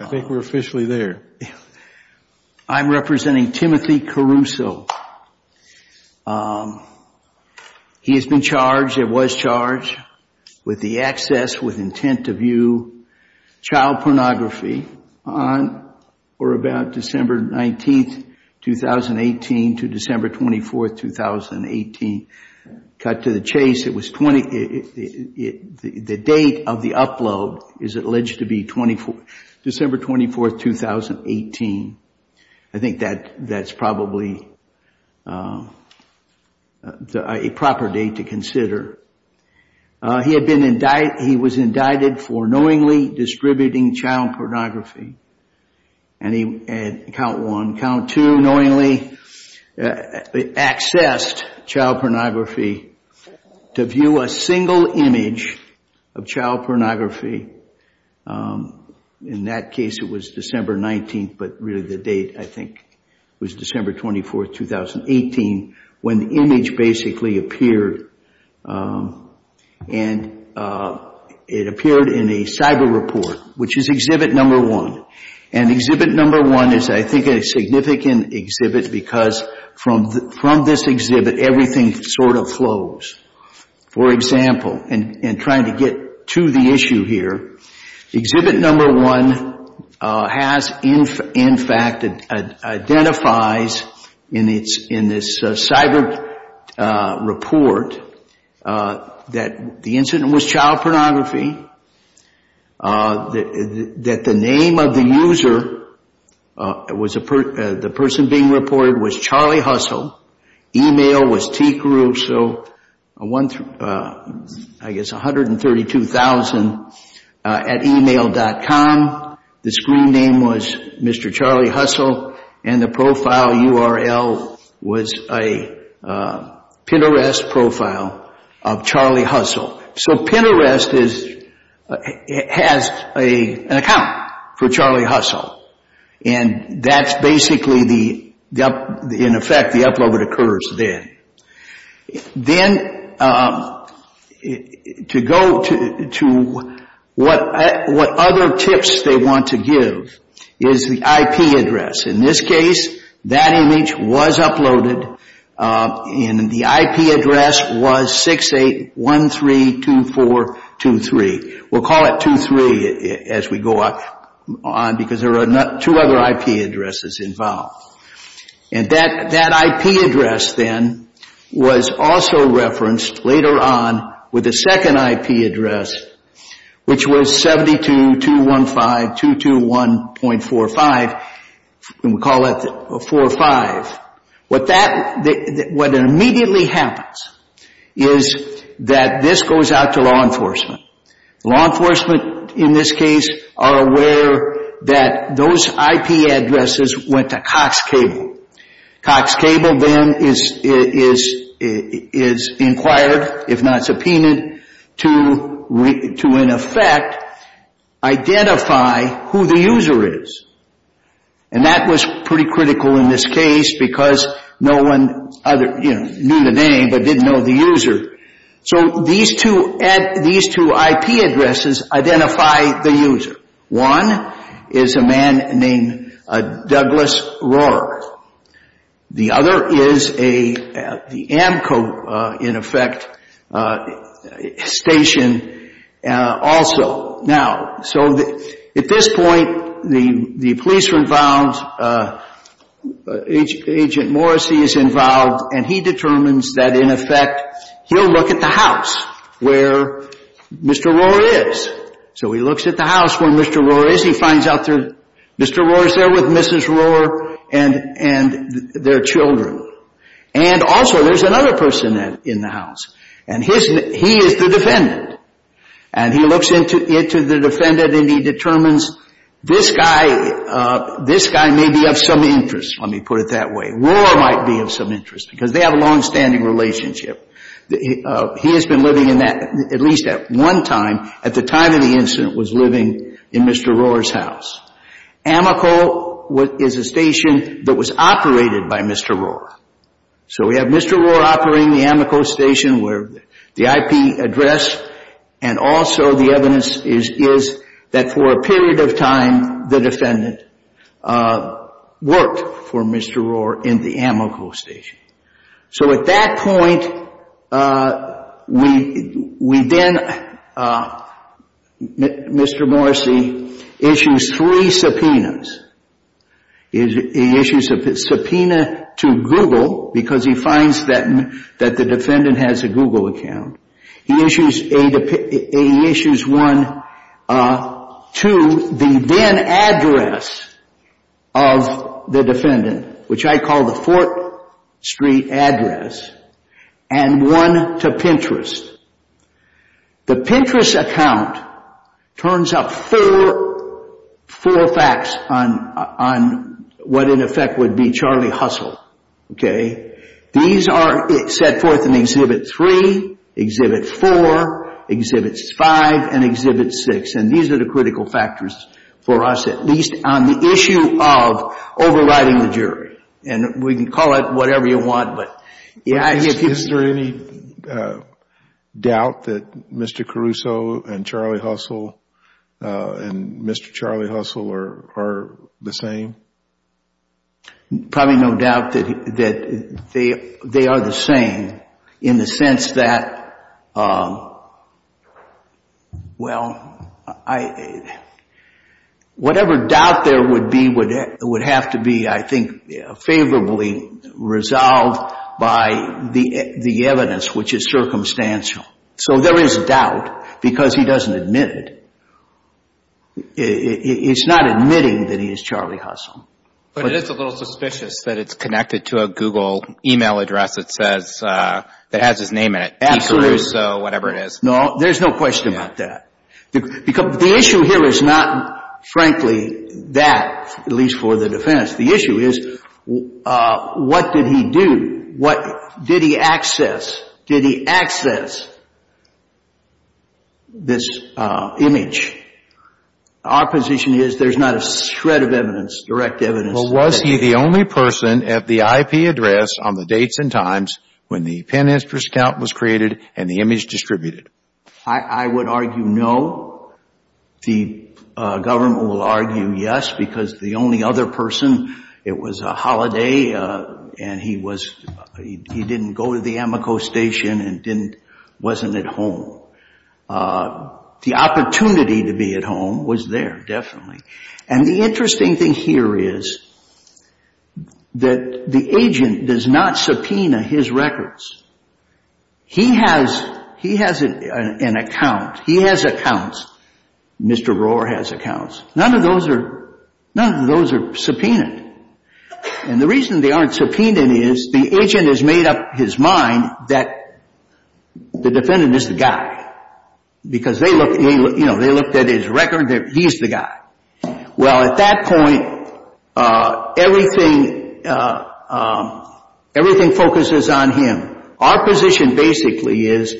I think we're officially there. I'm representing Timothy Caruso. He has been charged, or was charged with the access with intent to view child pornography on or about December 19th, 2018 to December 24th, 2018. Cut to the chase. It was 20, the date of the upload is alleged to be December 24th, 2018. I think that that's probably a proper date to consider. He had been indicted, he was indicted for knowingly distributing child pornography and he had, count one, count two, knowingly accessed child pornography to view a single image of child pornography. In that case, it was December 19th, but really the date, I think, was December 24th, 2018, when the image basically appeared and it appeared in a cyber report, which is exhibit number one. And exhibit number one is, I think, a significant exhibit because from this exhibit, everything sort of flows. For example, and trying to get to the issue here, exhibit number one has, in fact, identifies in this cyber report that the incident was child pornography, that the name of the user, the person being reported was Charlie Hustle, email was tgru, so I guess 132,000 at email.com. The screen name was Mr. Charlie Hustle and the profile URL was a pin arrest profile of Charlie Hustle. So pin arrest has an account for Charlie Hustle and that's basically, in effect, the upload that occurs then. Then to go to what other tips they want to give is the IP address. In this case, that image was uploaded and the IP address was 68132423. We'll call it 23 as we go on because there are two other IP addresses involved. And that IP address then was also referenced later on with the second IP address, which was 72215221.45, and we'll call it 45. What immediately happens is that this goes out to law enforcement. Law enforcement, in this case, are aware that those IP addresses went to Cox Cable. Cox Cable then is inquired, if not subpoenaed, to, in effect, identify who the user is, and that was pretty critical in this case because no one knew the name but didn't know the user. So these two IP addresses identify the user. One is a man named Douglas Rohrer. The other is the AMCO, in effect, station also. Now, so at this point, the police are involved, Agent Morrissey is involved, and he determines that, in effect, he'll look at the house where Mr. Rohrer is. So he looks at the house where Mr. Rohrer is. He finds out Mr. Rohrer's there with Mrs. Rohrer and their children. And also, there's another person in the house, and he is the defendant. And he looks into the defendant and he determines, this guy may be of some interest. Let me put it that way. Rohrer might be of some interest because they have a longstanding relationship. He has been living in that, at least at one time, at the time of the incident, was living in Mr. Rohrer's house. AMCO is a station that was operated by Mr. Rohrer. So we have Mr. Rohrer operating the AMCO station where the IP address, and also, the evidence is that, for a period of time, the defendant worked for Mr. Rohrer in the AMCO station. So at that point, we then, Mr. Morrissey issues three subpoenas. He issues a subpoena to Google because he finds that the defendant has a Google account. He issues one to the then address of the defendant, which I call the 4th Street address, and one to Pinterest. The Pinterest account turns up four facts on what, in effect, would be Charlie Hustle. Okay? These are set forth in Exhibit 3, Exhibit 4, Exhibit 5, and Exhibit 6. And these are the critical factors for us, at least on the issue of overriding the jury. And we can call it whatever you want, but if you... Is there any doubt that Mr. Caruso and Charlie Hustle and Mr. Charlie Hustle are the same? Probably no doubt that they are the same in the sense that, well, whatever doubt there would be would have to be, I think, favorably resolved by the evidence, which is circumstantial. So there is doubt because he doesn't admit it. It's not admitting that he is Charlie Hustle. But it is a little suspicious that it's connected to a Google email address that says, that has his name in it, P. Caruso, whatever it is. No, there's no question about that. Because the issue here is not, frankly, that, at least for the defense. The issue is, what did he do? What did he access? Did he access this image? Our position is, there's not a shred of evidence, direct evidence... Well, was he the only person at the IP address on the dates and times when the pin interest count was created and the image distributed? I would argue no. The government will argue yes, because the only other person, it was a holiday. And he didn't go to the Amico station and wasn't at home. The opportunity to be at home was there, definitely. And the interesting thing here is that the agent does not subpoena his records. He has an account. He has accounts. Mr. Rohr has accounts. None of those are subpoenaed. And the reason they aren't subpoenaed is, the agent has made up his mind that the defendant is the guy, because they looked at his record. He's the guy. Well, at that point, everything focuses on him. Our position basically is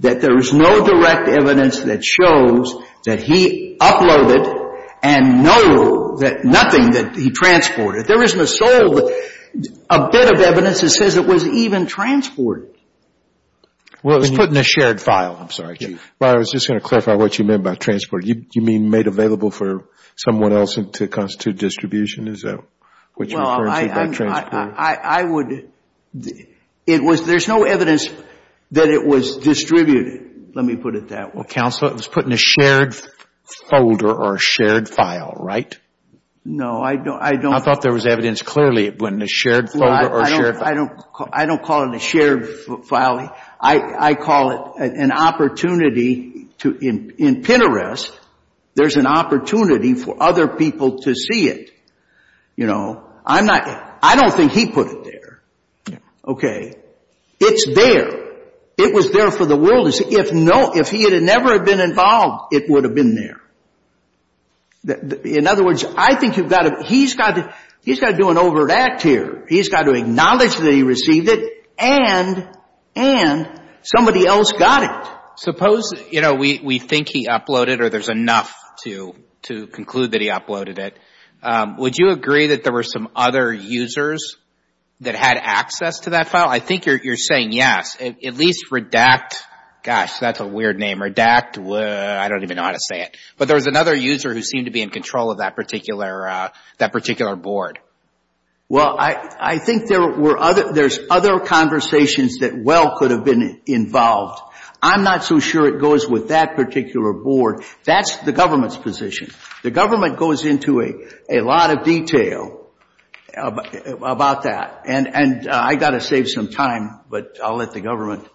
that there is no direct evidence that shows that he uploaded and no, that nothing that he transported. There isn't a soul, a bit of evidence that says it was even transported. Well, it was put in a shared file. I'm sorry, Chief. Well, I was just going to clarify what you meant by transported. You mean made available for someone else to constitute distribution? Is that what you're referring to by transported? I would... It was, there's no evidence that it was distributed. Let me put it that way. Well, Counselor, it was put in a shared folder or a shared file, right? No, I don't... I thought there was evidence clearly it went in a shared folder or a shared file. I don't call it a shared file. I call it an opportunity to, in Pinterest, there's an opportunity for other people to see it. You know, I'm not, I don't think he put it there. Okay. It's there. It was there for the world to see. If no, if he had never been involved, it would have been there. In other words, I think you've got to, he's got to, he's got to do an overt act here. He's got to acknowledge that he received it and somebody else got it. Suppose, you know, we think he uploaded or there's enough to conclude that he uploaded it. Would you agree that there were some other users that had access to that file? I think you're saying yes. At least Redact, gosh, that's a weird name. Redact, I don't even know how to say it. But there was another user who seemed to be in control of that particular, that particular board. Well, I think there were other, there's other conversations that well could have been involved. I'm not so sure it goes with that particular board. That's the government's position. The government goes into a lot of detail about that. And I've got to save some time, but I'll let the government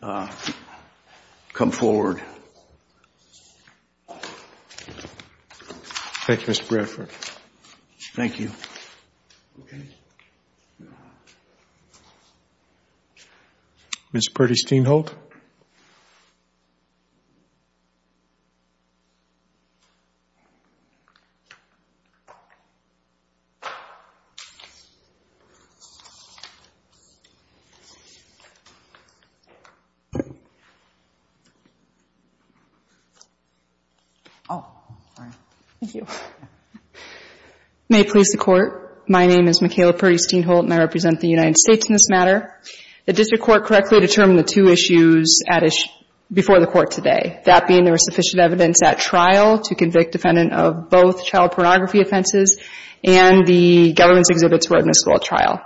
come forward. Thank you, Mr. Bradford. Thank you. Okay. Ms. Perdis-Steinholt? Oh, sorry. Thank you. May it please the Court, my name is Mikayla Perdis-Steinholt and I represent the United States in this matter. The district court correctly determined the two issues at issue, before the court today. That being there was sufficient evidence at trial to convict defendant of both child pornography offenses and the government's exhibits were admissible at trial.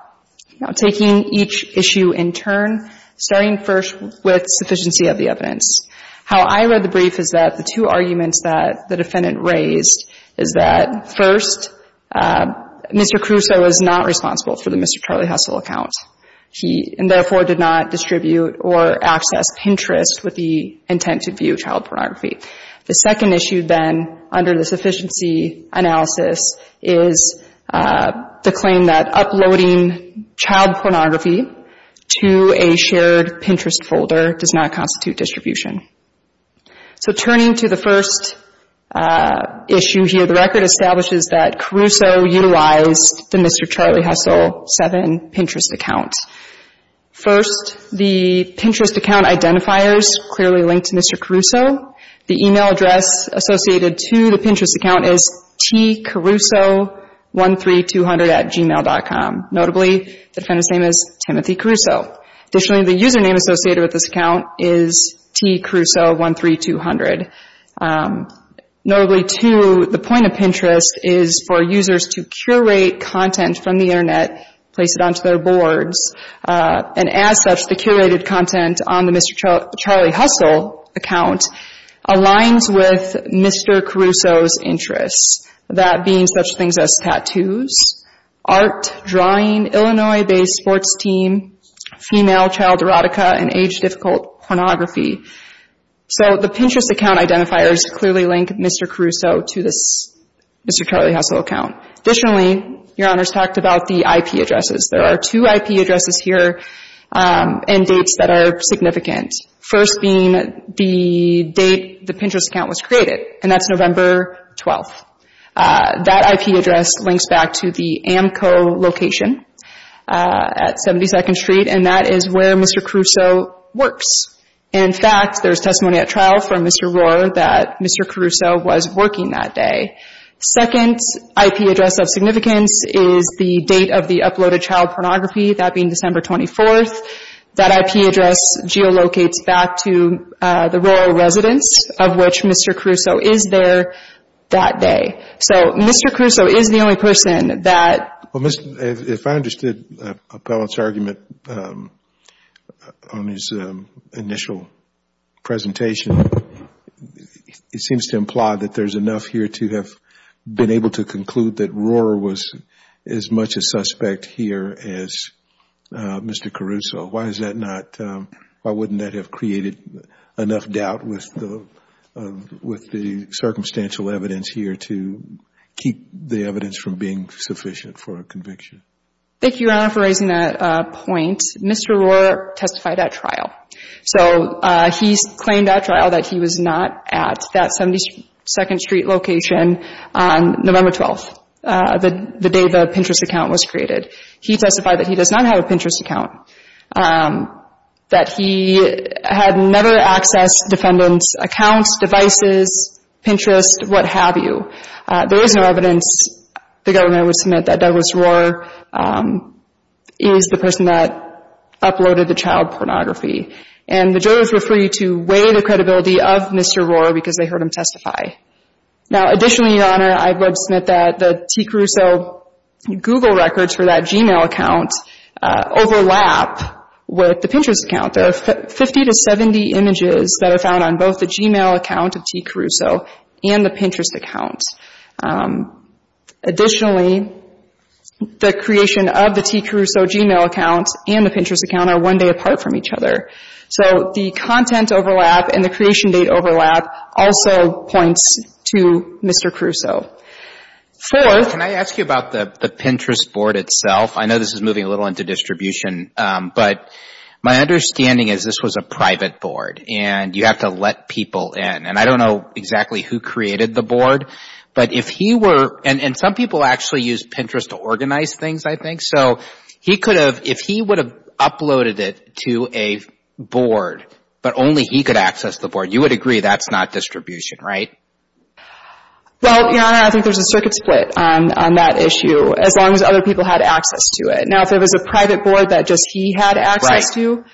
Now, taking each issue in turn, starting first with sufficiency of the evidence. How I read the brief is that the two arguments that the defendant raised is that first, Mr. Crusoe was not responsible for the Mr. Charlie Hussle account. He therefore did not distribute or access Pinterest with the intent to view child pornography. The second issue then, under the sufficiency analysis, is the claim that uploading child pornography to a shared Pinterest folder does not constitute distribution. So turning to the first issue here, the record establishes that Crusoe utilized the Mr. Charlie Hussle 7 Pinterest account. First, the Pinterest account identifiers clearly link to Mr. Crusoe. The email address associated to the Pinterest account is tcruso13200 at gmail.com. Notably, the defendant's name is Timothy Crusoe. Additionally, the username associated with this account is tcruso13200. Notably, too, the point of Pinterest is for users to curate content from the internet, place it onto their boards, and as such, the curated content on the Mr. Charlie Hussle account aligns with Mr. Crusoe's interests. That being such things as tattoos, art, drawing, Illinois-based sports team, female child erotica, and age-difficult pornography. So the Pinterest account identifiers clearly link Mr. Crusoe to this Mr. Charlie Hussle account. Additionally, Your Honors talked about the IP addresses. There are two IP addresses here and dates that are significant. First being the date the Pinterest account was created, and that's November 12th. That IP address links back to the AMCO location at 72nd Street, and that is where Mr. Crusoe works. In fact, there's testimony at trial from Mr. Rohrer that Mr. Crusoe was working that day. Second IP address of significance is the date of the uploaded child pornography, that being December 24th. That IP address geolocates back to the Rohrer residence of which Mr. Crusoe is there that day. So Mr. Crusoe is the only person that... If I understood Appellant's argument on his initial presentation, it seems to imply that there's enough here to have been able to conclude that Rohrer was as much a suspect here as Mr. Crusoe. Why is that not... Why wouldn't that have created enough doubt with the circumstantial evidence here to keep the evidence from being sufficient for a conviction? Thank you, Your Honor, for raising that point. Mr. Rohrer testified at trial. So he's claimed at trial that he was not at that 72nd Street location on November 12th, the day the Pinterest account was created. He testified that he does not have a Pinterest account, that he had never accessed defendant's accounts, devices, Pinterest, what have you. There is no evidence the government would submit that Douglas Rohrer is the person that uploaded the child pornography. And the jurors were free to weigh the credibility of Mr. Rohrer because they heard him testify. Now, additionally, Your Honor, I would submit that the T. Crusoe Google records for that Gmail account overlap with the Pinterest account. There are 50 to 70 images that are found on both the Gmail account of T. Crusoe and the Pinterest account. Additionally, the creation of the T. Crusoe Gmail account and the Pinterest account are one day apart from each other. So the content overlap and the creation date overlap also points to Mr. Crusoe. Fourth... Can I ask you about the Pinterest board itself? I know this is moving a little into distribution, but my understanding is this was a private board and you have to let people in. And I don't know exactly who created the board, but if he were... And some people actually use Pinterest to organize things, I think. So he could have... If he would have uploaded it to a board, but only he could access the board, you would agree that's not distribution, right? Well, Your Honor, I think there's a circuit split on that issue, as long as other people had access to it. Now, if it was a private board that just he had access to,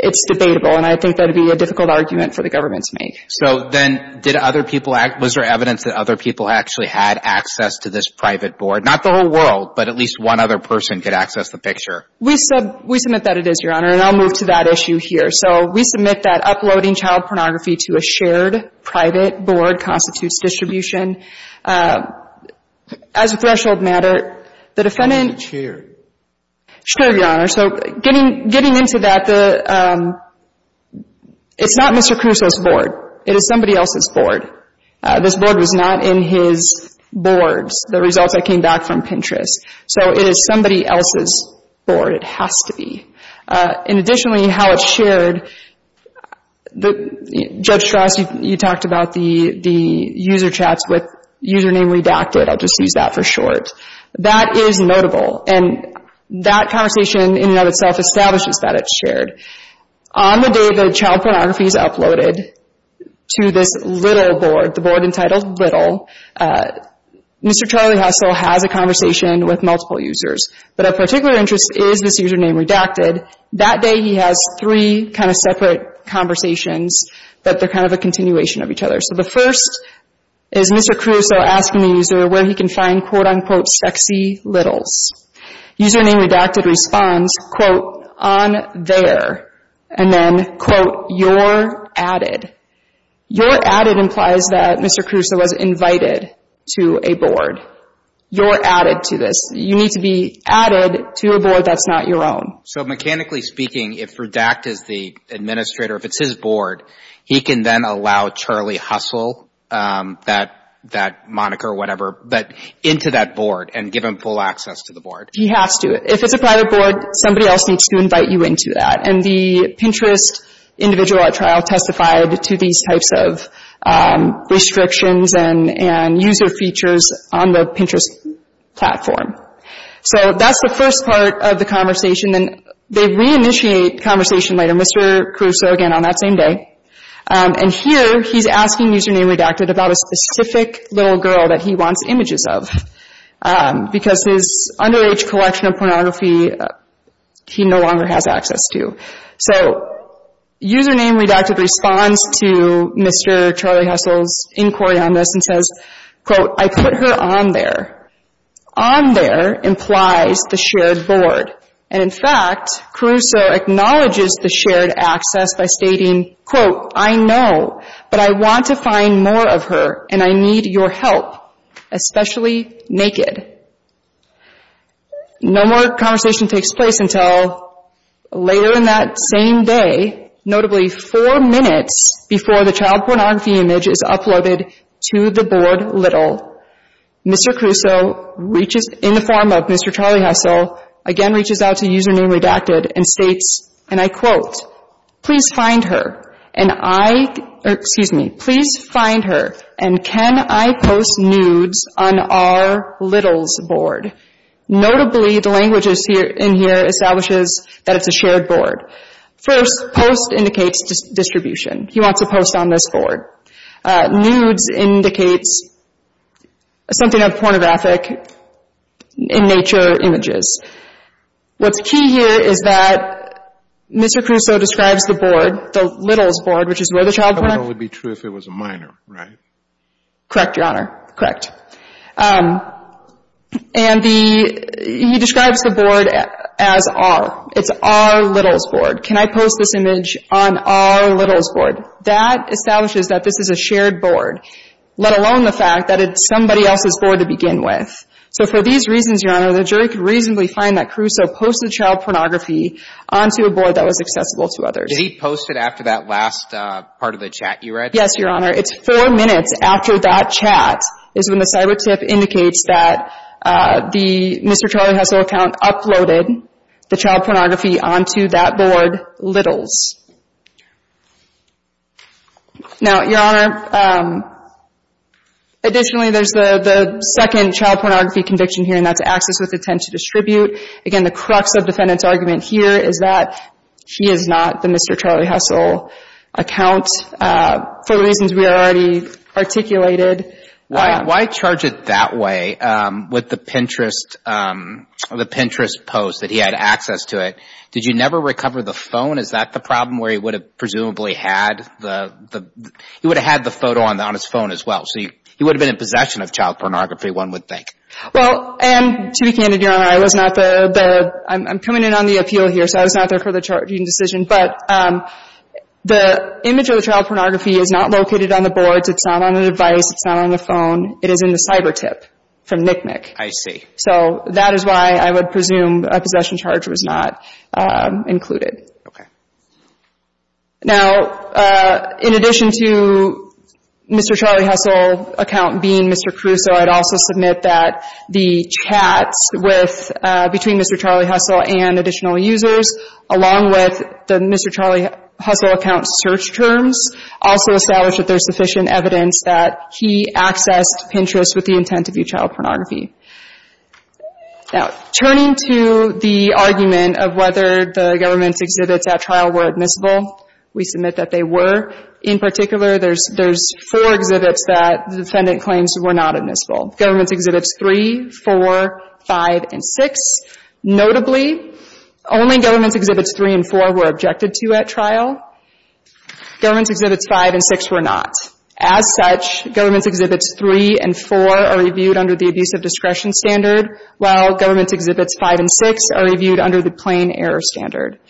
it's debatable. And I think that'd be a difficult argument for the government to make. So then did other people... Was there evidence that other people actually had access to this private board? Not the whole world, but at least one other person could access the picture. We submit that it is, Your Honor. And I'll move to that issue here. So we submit that uploading child pornography to a shared private board constitutes distribution. As a threshold matter, the defendant... It's shared. It's shared, Your Honor. So getting into that, it's not Mr. Crusoe's board. It is somebody else's board. This board was not in his boards, the results that came back from Pinterest. So it is somebody else's board. It has to be. And additionally, how it's shared... Judge Strauss, you talked about the user chats with username redacted. I'll just use that for short. That is notable. And that conversation in and of itself establishes that it's shared. On the day the child pornography is uploaded to this little board, the board entitled Little, Mr. Charlie Hustle has a conversation with multiple users. But of particular interest is this username redacted. That day, he has three kind of separate conversations that they're kind of a continuation of each other. So the first is Mr. Crusoe asking the user where he can find quote-unquote sexy littles. Username redacted responds, quote, on there. And then, quote, you're added. You're added implies that Mr. Crusoe was invited to a board. You're added to this. You need to be added to a board that's not your own. So mechanically speaking, if redact is the administrator, if it's his board, he can then allow Charlie Hustle, that moniker or whatever, but into that board and give him full access to the board. He has to. If it's a private board, somebody else needs to invite you into that. And the Pinterest individual at trial testified to these types of restrictions and user features on the Pinterest platform. So that's the first part of the conversation. And they reinitiate conversation later, Mr. Crusoe again on that same day. And here he's asking username redacted about a specific little girl that he wants images of because his underage collection of pornography he no longer has access to. So username redacted responds to Mr. Charlie Hustle's inquiry on this and says, quote, I put her on there. On there implies the shared board. And in fact, Crusoe acknowledges the shared access by stating, quote, I know, but I want to find more of her and I need your help, especially naked. No more conversation takes place until later in that same day, notably four minutes before the child pornography image is uploaded to the board little. Mr. Crusoe reaches, in the form of Mr. Charlie Hustle, again reaches out to username redacted and states, and I quote, please find her and I, excuse me, please find her and can I post nudes on our littles board? Notably, the languages in here establishes that it's a shared board. First, post indicates distribution. He wants to post on this board. Nudes indicates something of pornographic in nature images. What's key here is that Mr. Crusoe describes the board, the littles board, which is where the child pornography. It would only be true if it was a minor, right? Correct, Your Honor. Correct. And the, he describes the board as R. It's R littles board. Can I post this image on R littles board? That establishes that this is a shared board, let alone the fact that it's somebody else's board to begin with. So for these reasons, Your Honor, the jury could reasonably find that Crusoe posted child pornography onto a board that was accessible to others. Did he post it after that last part of the chat you read? Yes, Your Honor. It's four minutes after that chat is when the cyber tip indicates that the Mr. Charlie Hustle account uploaded the child pornography onto that board littles. Now, Your Honor, additionally, there's the second child pornography conviction here, and that's access with intent to distribute. Again, the crux of defendant's argument here is that he is not the Mr. Charlie Hustle account for reasons we already articulated. Why charge it that way with the Pinterest post that he had access to it? Did you never recover the phone? Is that the problem where he would have presumably had the photo on his phone as well? So he would have been in possession of child pornography, one would think. Well, and to be candid, Your Honor, I'm coming in on the appeal here, so I was not there for the charging decision. But the image of the child pornography is not located on the boards. It's not on the device. It's not on the phone. It is in the cyber tip from Nick Nick. I see. So that is why I would presume a possession charge was not included. Okay. Now, in addition to Mr. Charlie Hustle account being Mr. Caruso, I'd also submit that the chats with between Mr. Charlie Hustle and additional users, along with the Mr. Charlie Hustle account search terms, also establish that there's sufficient evidence that he accessed Pinterest with the intent to view child pornography. Now, turning to the argument of whether the government's exhibits at trial were admissible, we submit that they were. In particular, there's four exhibits that the defendant claims were not admissible, government's exhibits three, four, five, and six. Notably, only government's exhibits three and four were objected to at trial. Government's exhibits five and six were not. As such, government's exhibits three and four are reviewed under the abuse of discretion standard, while government's exhibits five and six are reviewed under the plain error standard.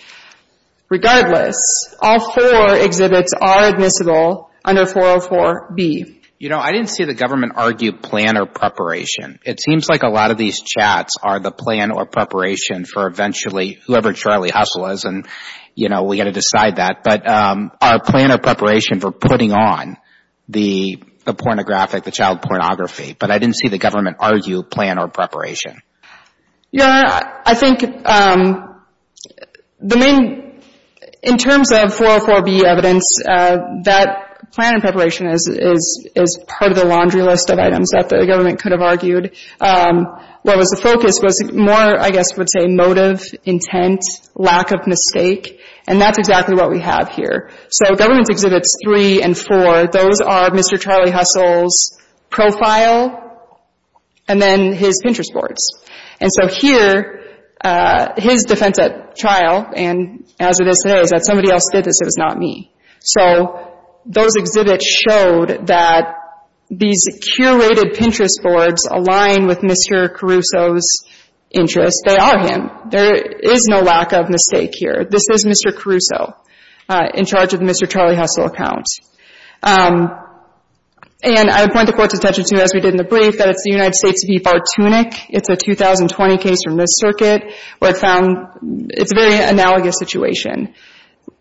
Regardless, all four exhibits are admissible under 404B. You know, I didn't see the government argue plan or preparation. It seems like a lot of these chats are the plan or preparation for eventually, whoever Charlie Hustle is, and, you know, we got to decide that. But our plan or preparation for putting on the pornographic, the child pornography. But I didn't see the government argue plan or preparation. Yeah, I think the main, in terms of 404B evidence, that plan and preparation is part of the laundry list of items that the government could have argued. What was the focus was more, I guess, would say motive, intent, lack of mistake. And that's exactly what we have here. So government's exhibits three and four, those are Mr. Charlie Hustle's profile and then his Pinterest boards. And so here, his defense at trial, and as it is today, is that somebody else did this. It was not me. So those exhibits showed that these curated Pinterest boards align with Mr. Caruso's interests. They are him. There is no lack of mistake here. This is Mr. Caruso in charge of the Mr. Charlie Hustle account. And I would point the Court's attention to, as we did in the brief, that it's the United States v. Bartunek. It's a 2020 case from this circuit where it found it's a very analogous situation,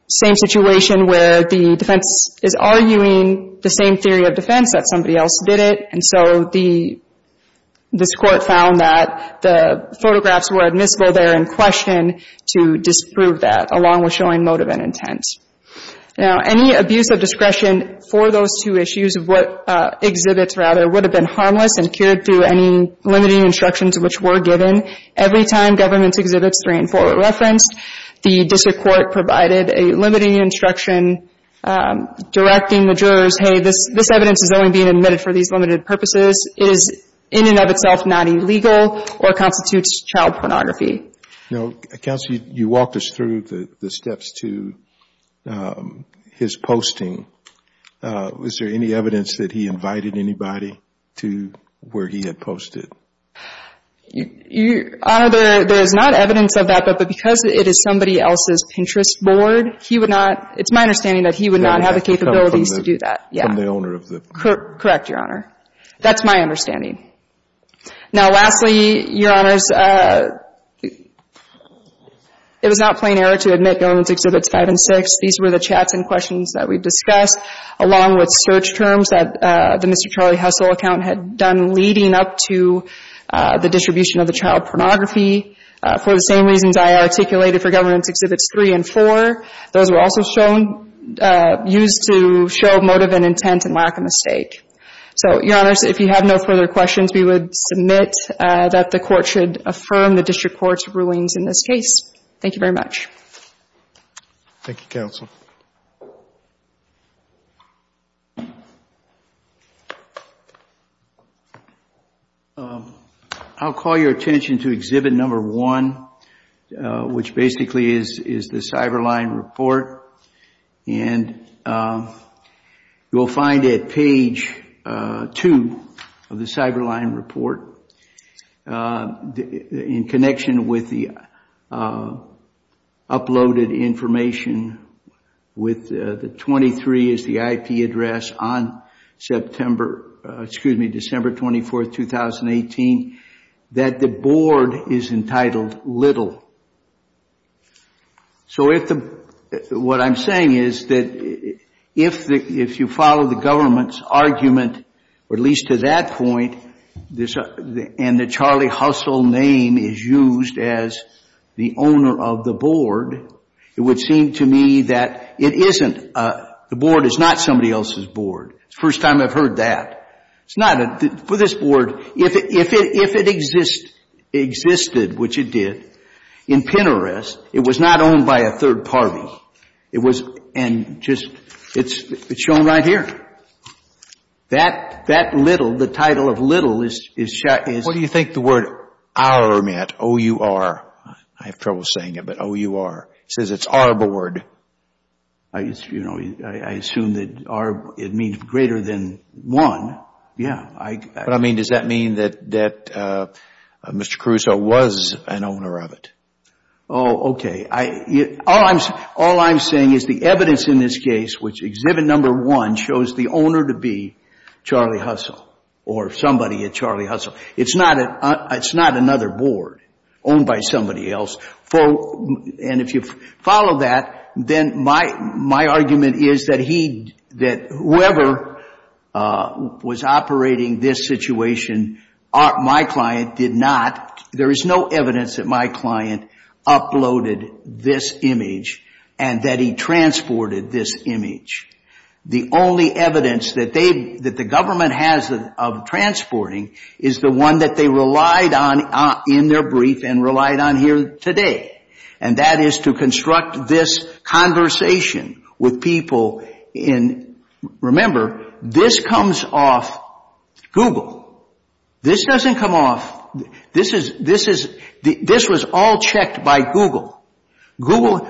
same situation where the defense is arguing the same theory of defense that somebody else did it. And so this Court found that the photographs were admissible there in question to disprove that, along with showing motive and intent. Now, any abuse of discretion for those two issues of what exhibits, rather, would have been harmless and cured through any limiting instructions which were given. Every time government's exhibits three and four were referenced, the District Court provided a limiting instruction directing the jurors, hey, this evidence is only being admitted for these limited purposes. It is in and of itself not illegal or constitutes child pornography. Now, Counselor, you walked us through the steps to his posting. Is there any evidence that he invited anybody to where he had posted? Your Honor, there is not evidence of that, but because it is somebody else's Pinterest board, he would not, it's my understanding that he would not have the capabilities to do that. Yeah. From the owner of the board. Correct, Your Honor. That's my understanding. Now, lastly, Your Honors, it was not plain error to admit government's exhibits five and six. These were the chats and questions that we've discussed, along with search terms that the Mr. Charlie Hussle account had done leading up to the distribution of the child pornography, for the same reasons I articulated for government's exhibits three and four. Those were also shown, used to show motive and intent and lack of mistake. So, Your Honors, if you have no further questions, we would submit that the court should affirm the district court's rulings in this case. Thank you very much. Thank you, Counsel. I'll call your attention to exhibit number one, which basically is the Cyberline report, and you'll find at page two of the Cyberline report, in connection with the uploaded information with the 23 as the IP address on September, excuse me, December 24th, 2018, that the board is entitled little. So, what I'm saying is that if you follow the government's argument, or at least to that point, and the Charlie Hussle name is used as the owner of the board, it would seem to me that it isn't. The board is not somebody else's board. It's the first time I've heard that. It's not, for this board, if it existed, which it did, in Pinterest, it was not owned by a third party. It was, and just, it's shown right here. That little, the title of little is shot, is- What do you think the word our meant? O-U-R. I have trouble saying it, but O-U-R. It says it's our board. I, you know, I assume that our, it means greater than one. Yeah, I- But, I mean, does that mean that Mr. Caruso was an owner of it? Oh, okay. All I'm saying is the evidence in this case, which exhibit number one, shows the owner to be Charlie Hussle, or somebody at Charlie Hussle. It's not another board owned by somebody else. For, and if you follow that, then my argument is that he, that whoever was operating this situation, my client did not, there is no evidence that my client uploaded this image, and that he transported this image. The only evidence that they, that the government has of transporting, is the one that they relied on here today, and that is to construct this conversation with people in, remember, this comes off Google. This doesn't come off, this is, this was all checked by Google. Google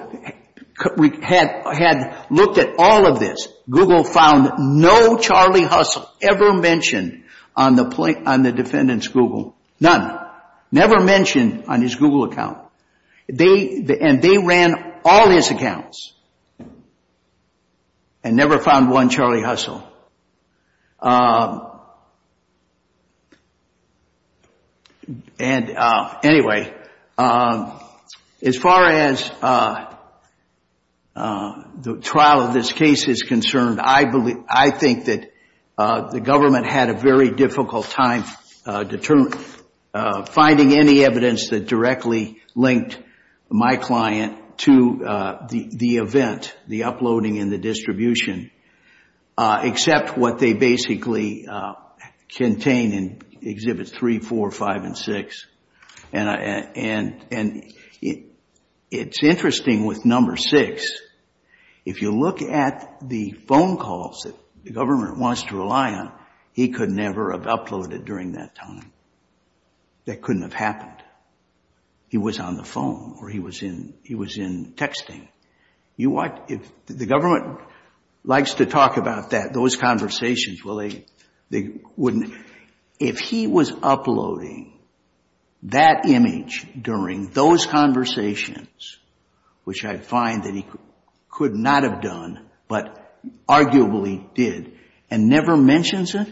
had looked at all of this. Google found no Charlie Hussle ever mentioned on the defendant's Google, none. Never mentioned on his Google account. They, and they ran all his accounts, and never found one Charlie Hussle. And anyway, as far as the trial of this case is concerned, I believe, I think that the finding any evidence that directly linked my client to the event, the uploading and the distribution, except what they basically contain in Exhibits 3, 4, 5, and 6, and it's interesting with Number 6, if you look at the phone calls that the government wants to rely on, he could never have uploaded during that time. That couldn't have happened. He was on the phone, or he was in, he was in texting. You want, if the government likes to talk about that, those conversations, well they, they wouldn't, if he was uploading that image during those conversations, which I find that he could not have done, but arguably did, and never mentions it,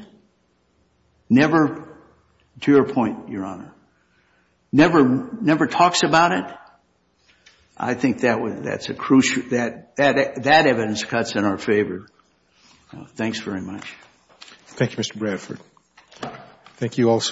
never, to your point, Your Honor, never, never talks about it. I think that would, that's a crucial, that, that evidence cuts in our favor. Thanks very much. Thank you, Mr. Bradford. Thank you also.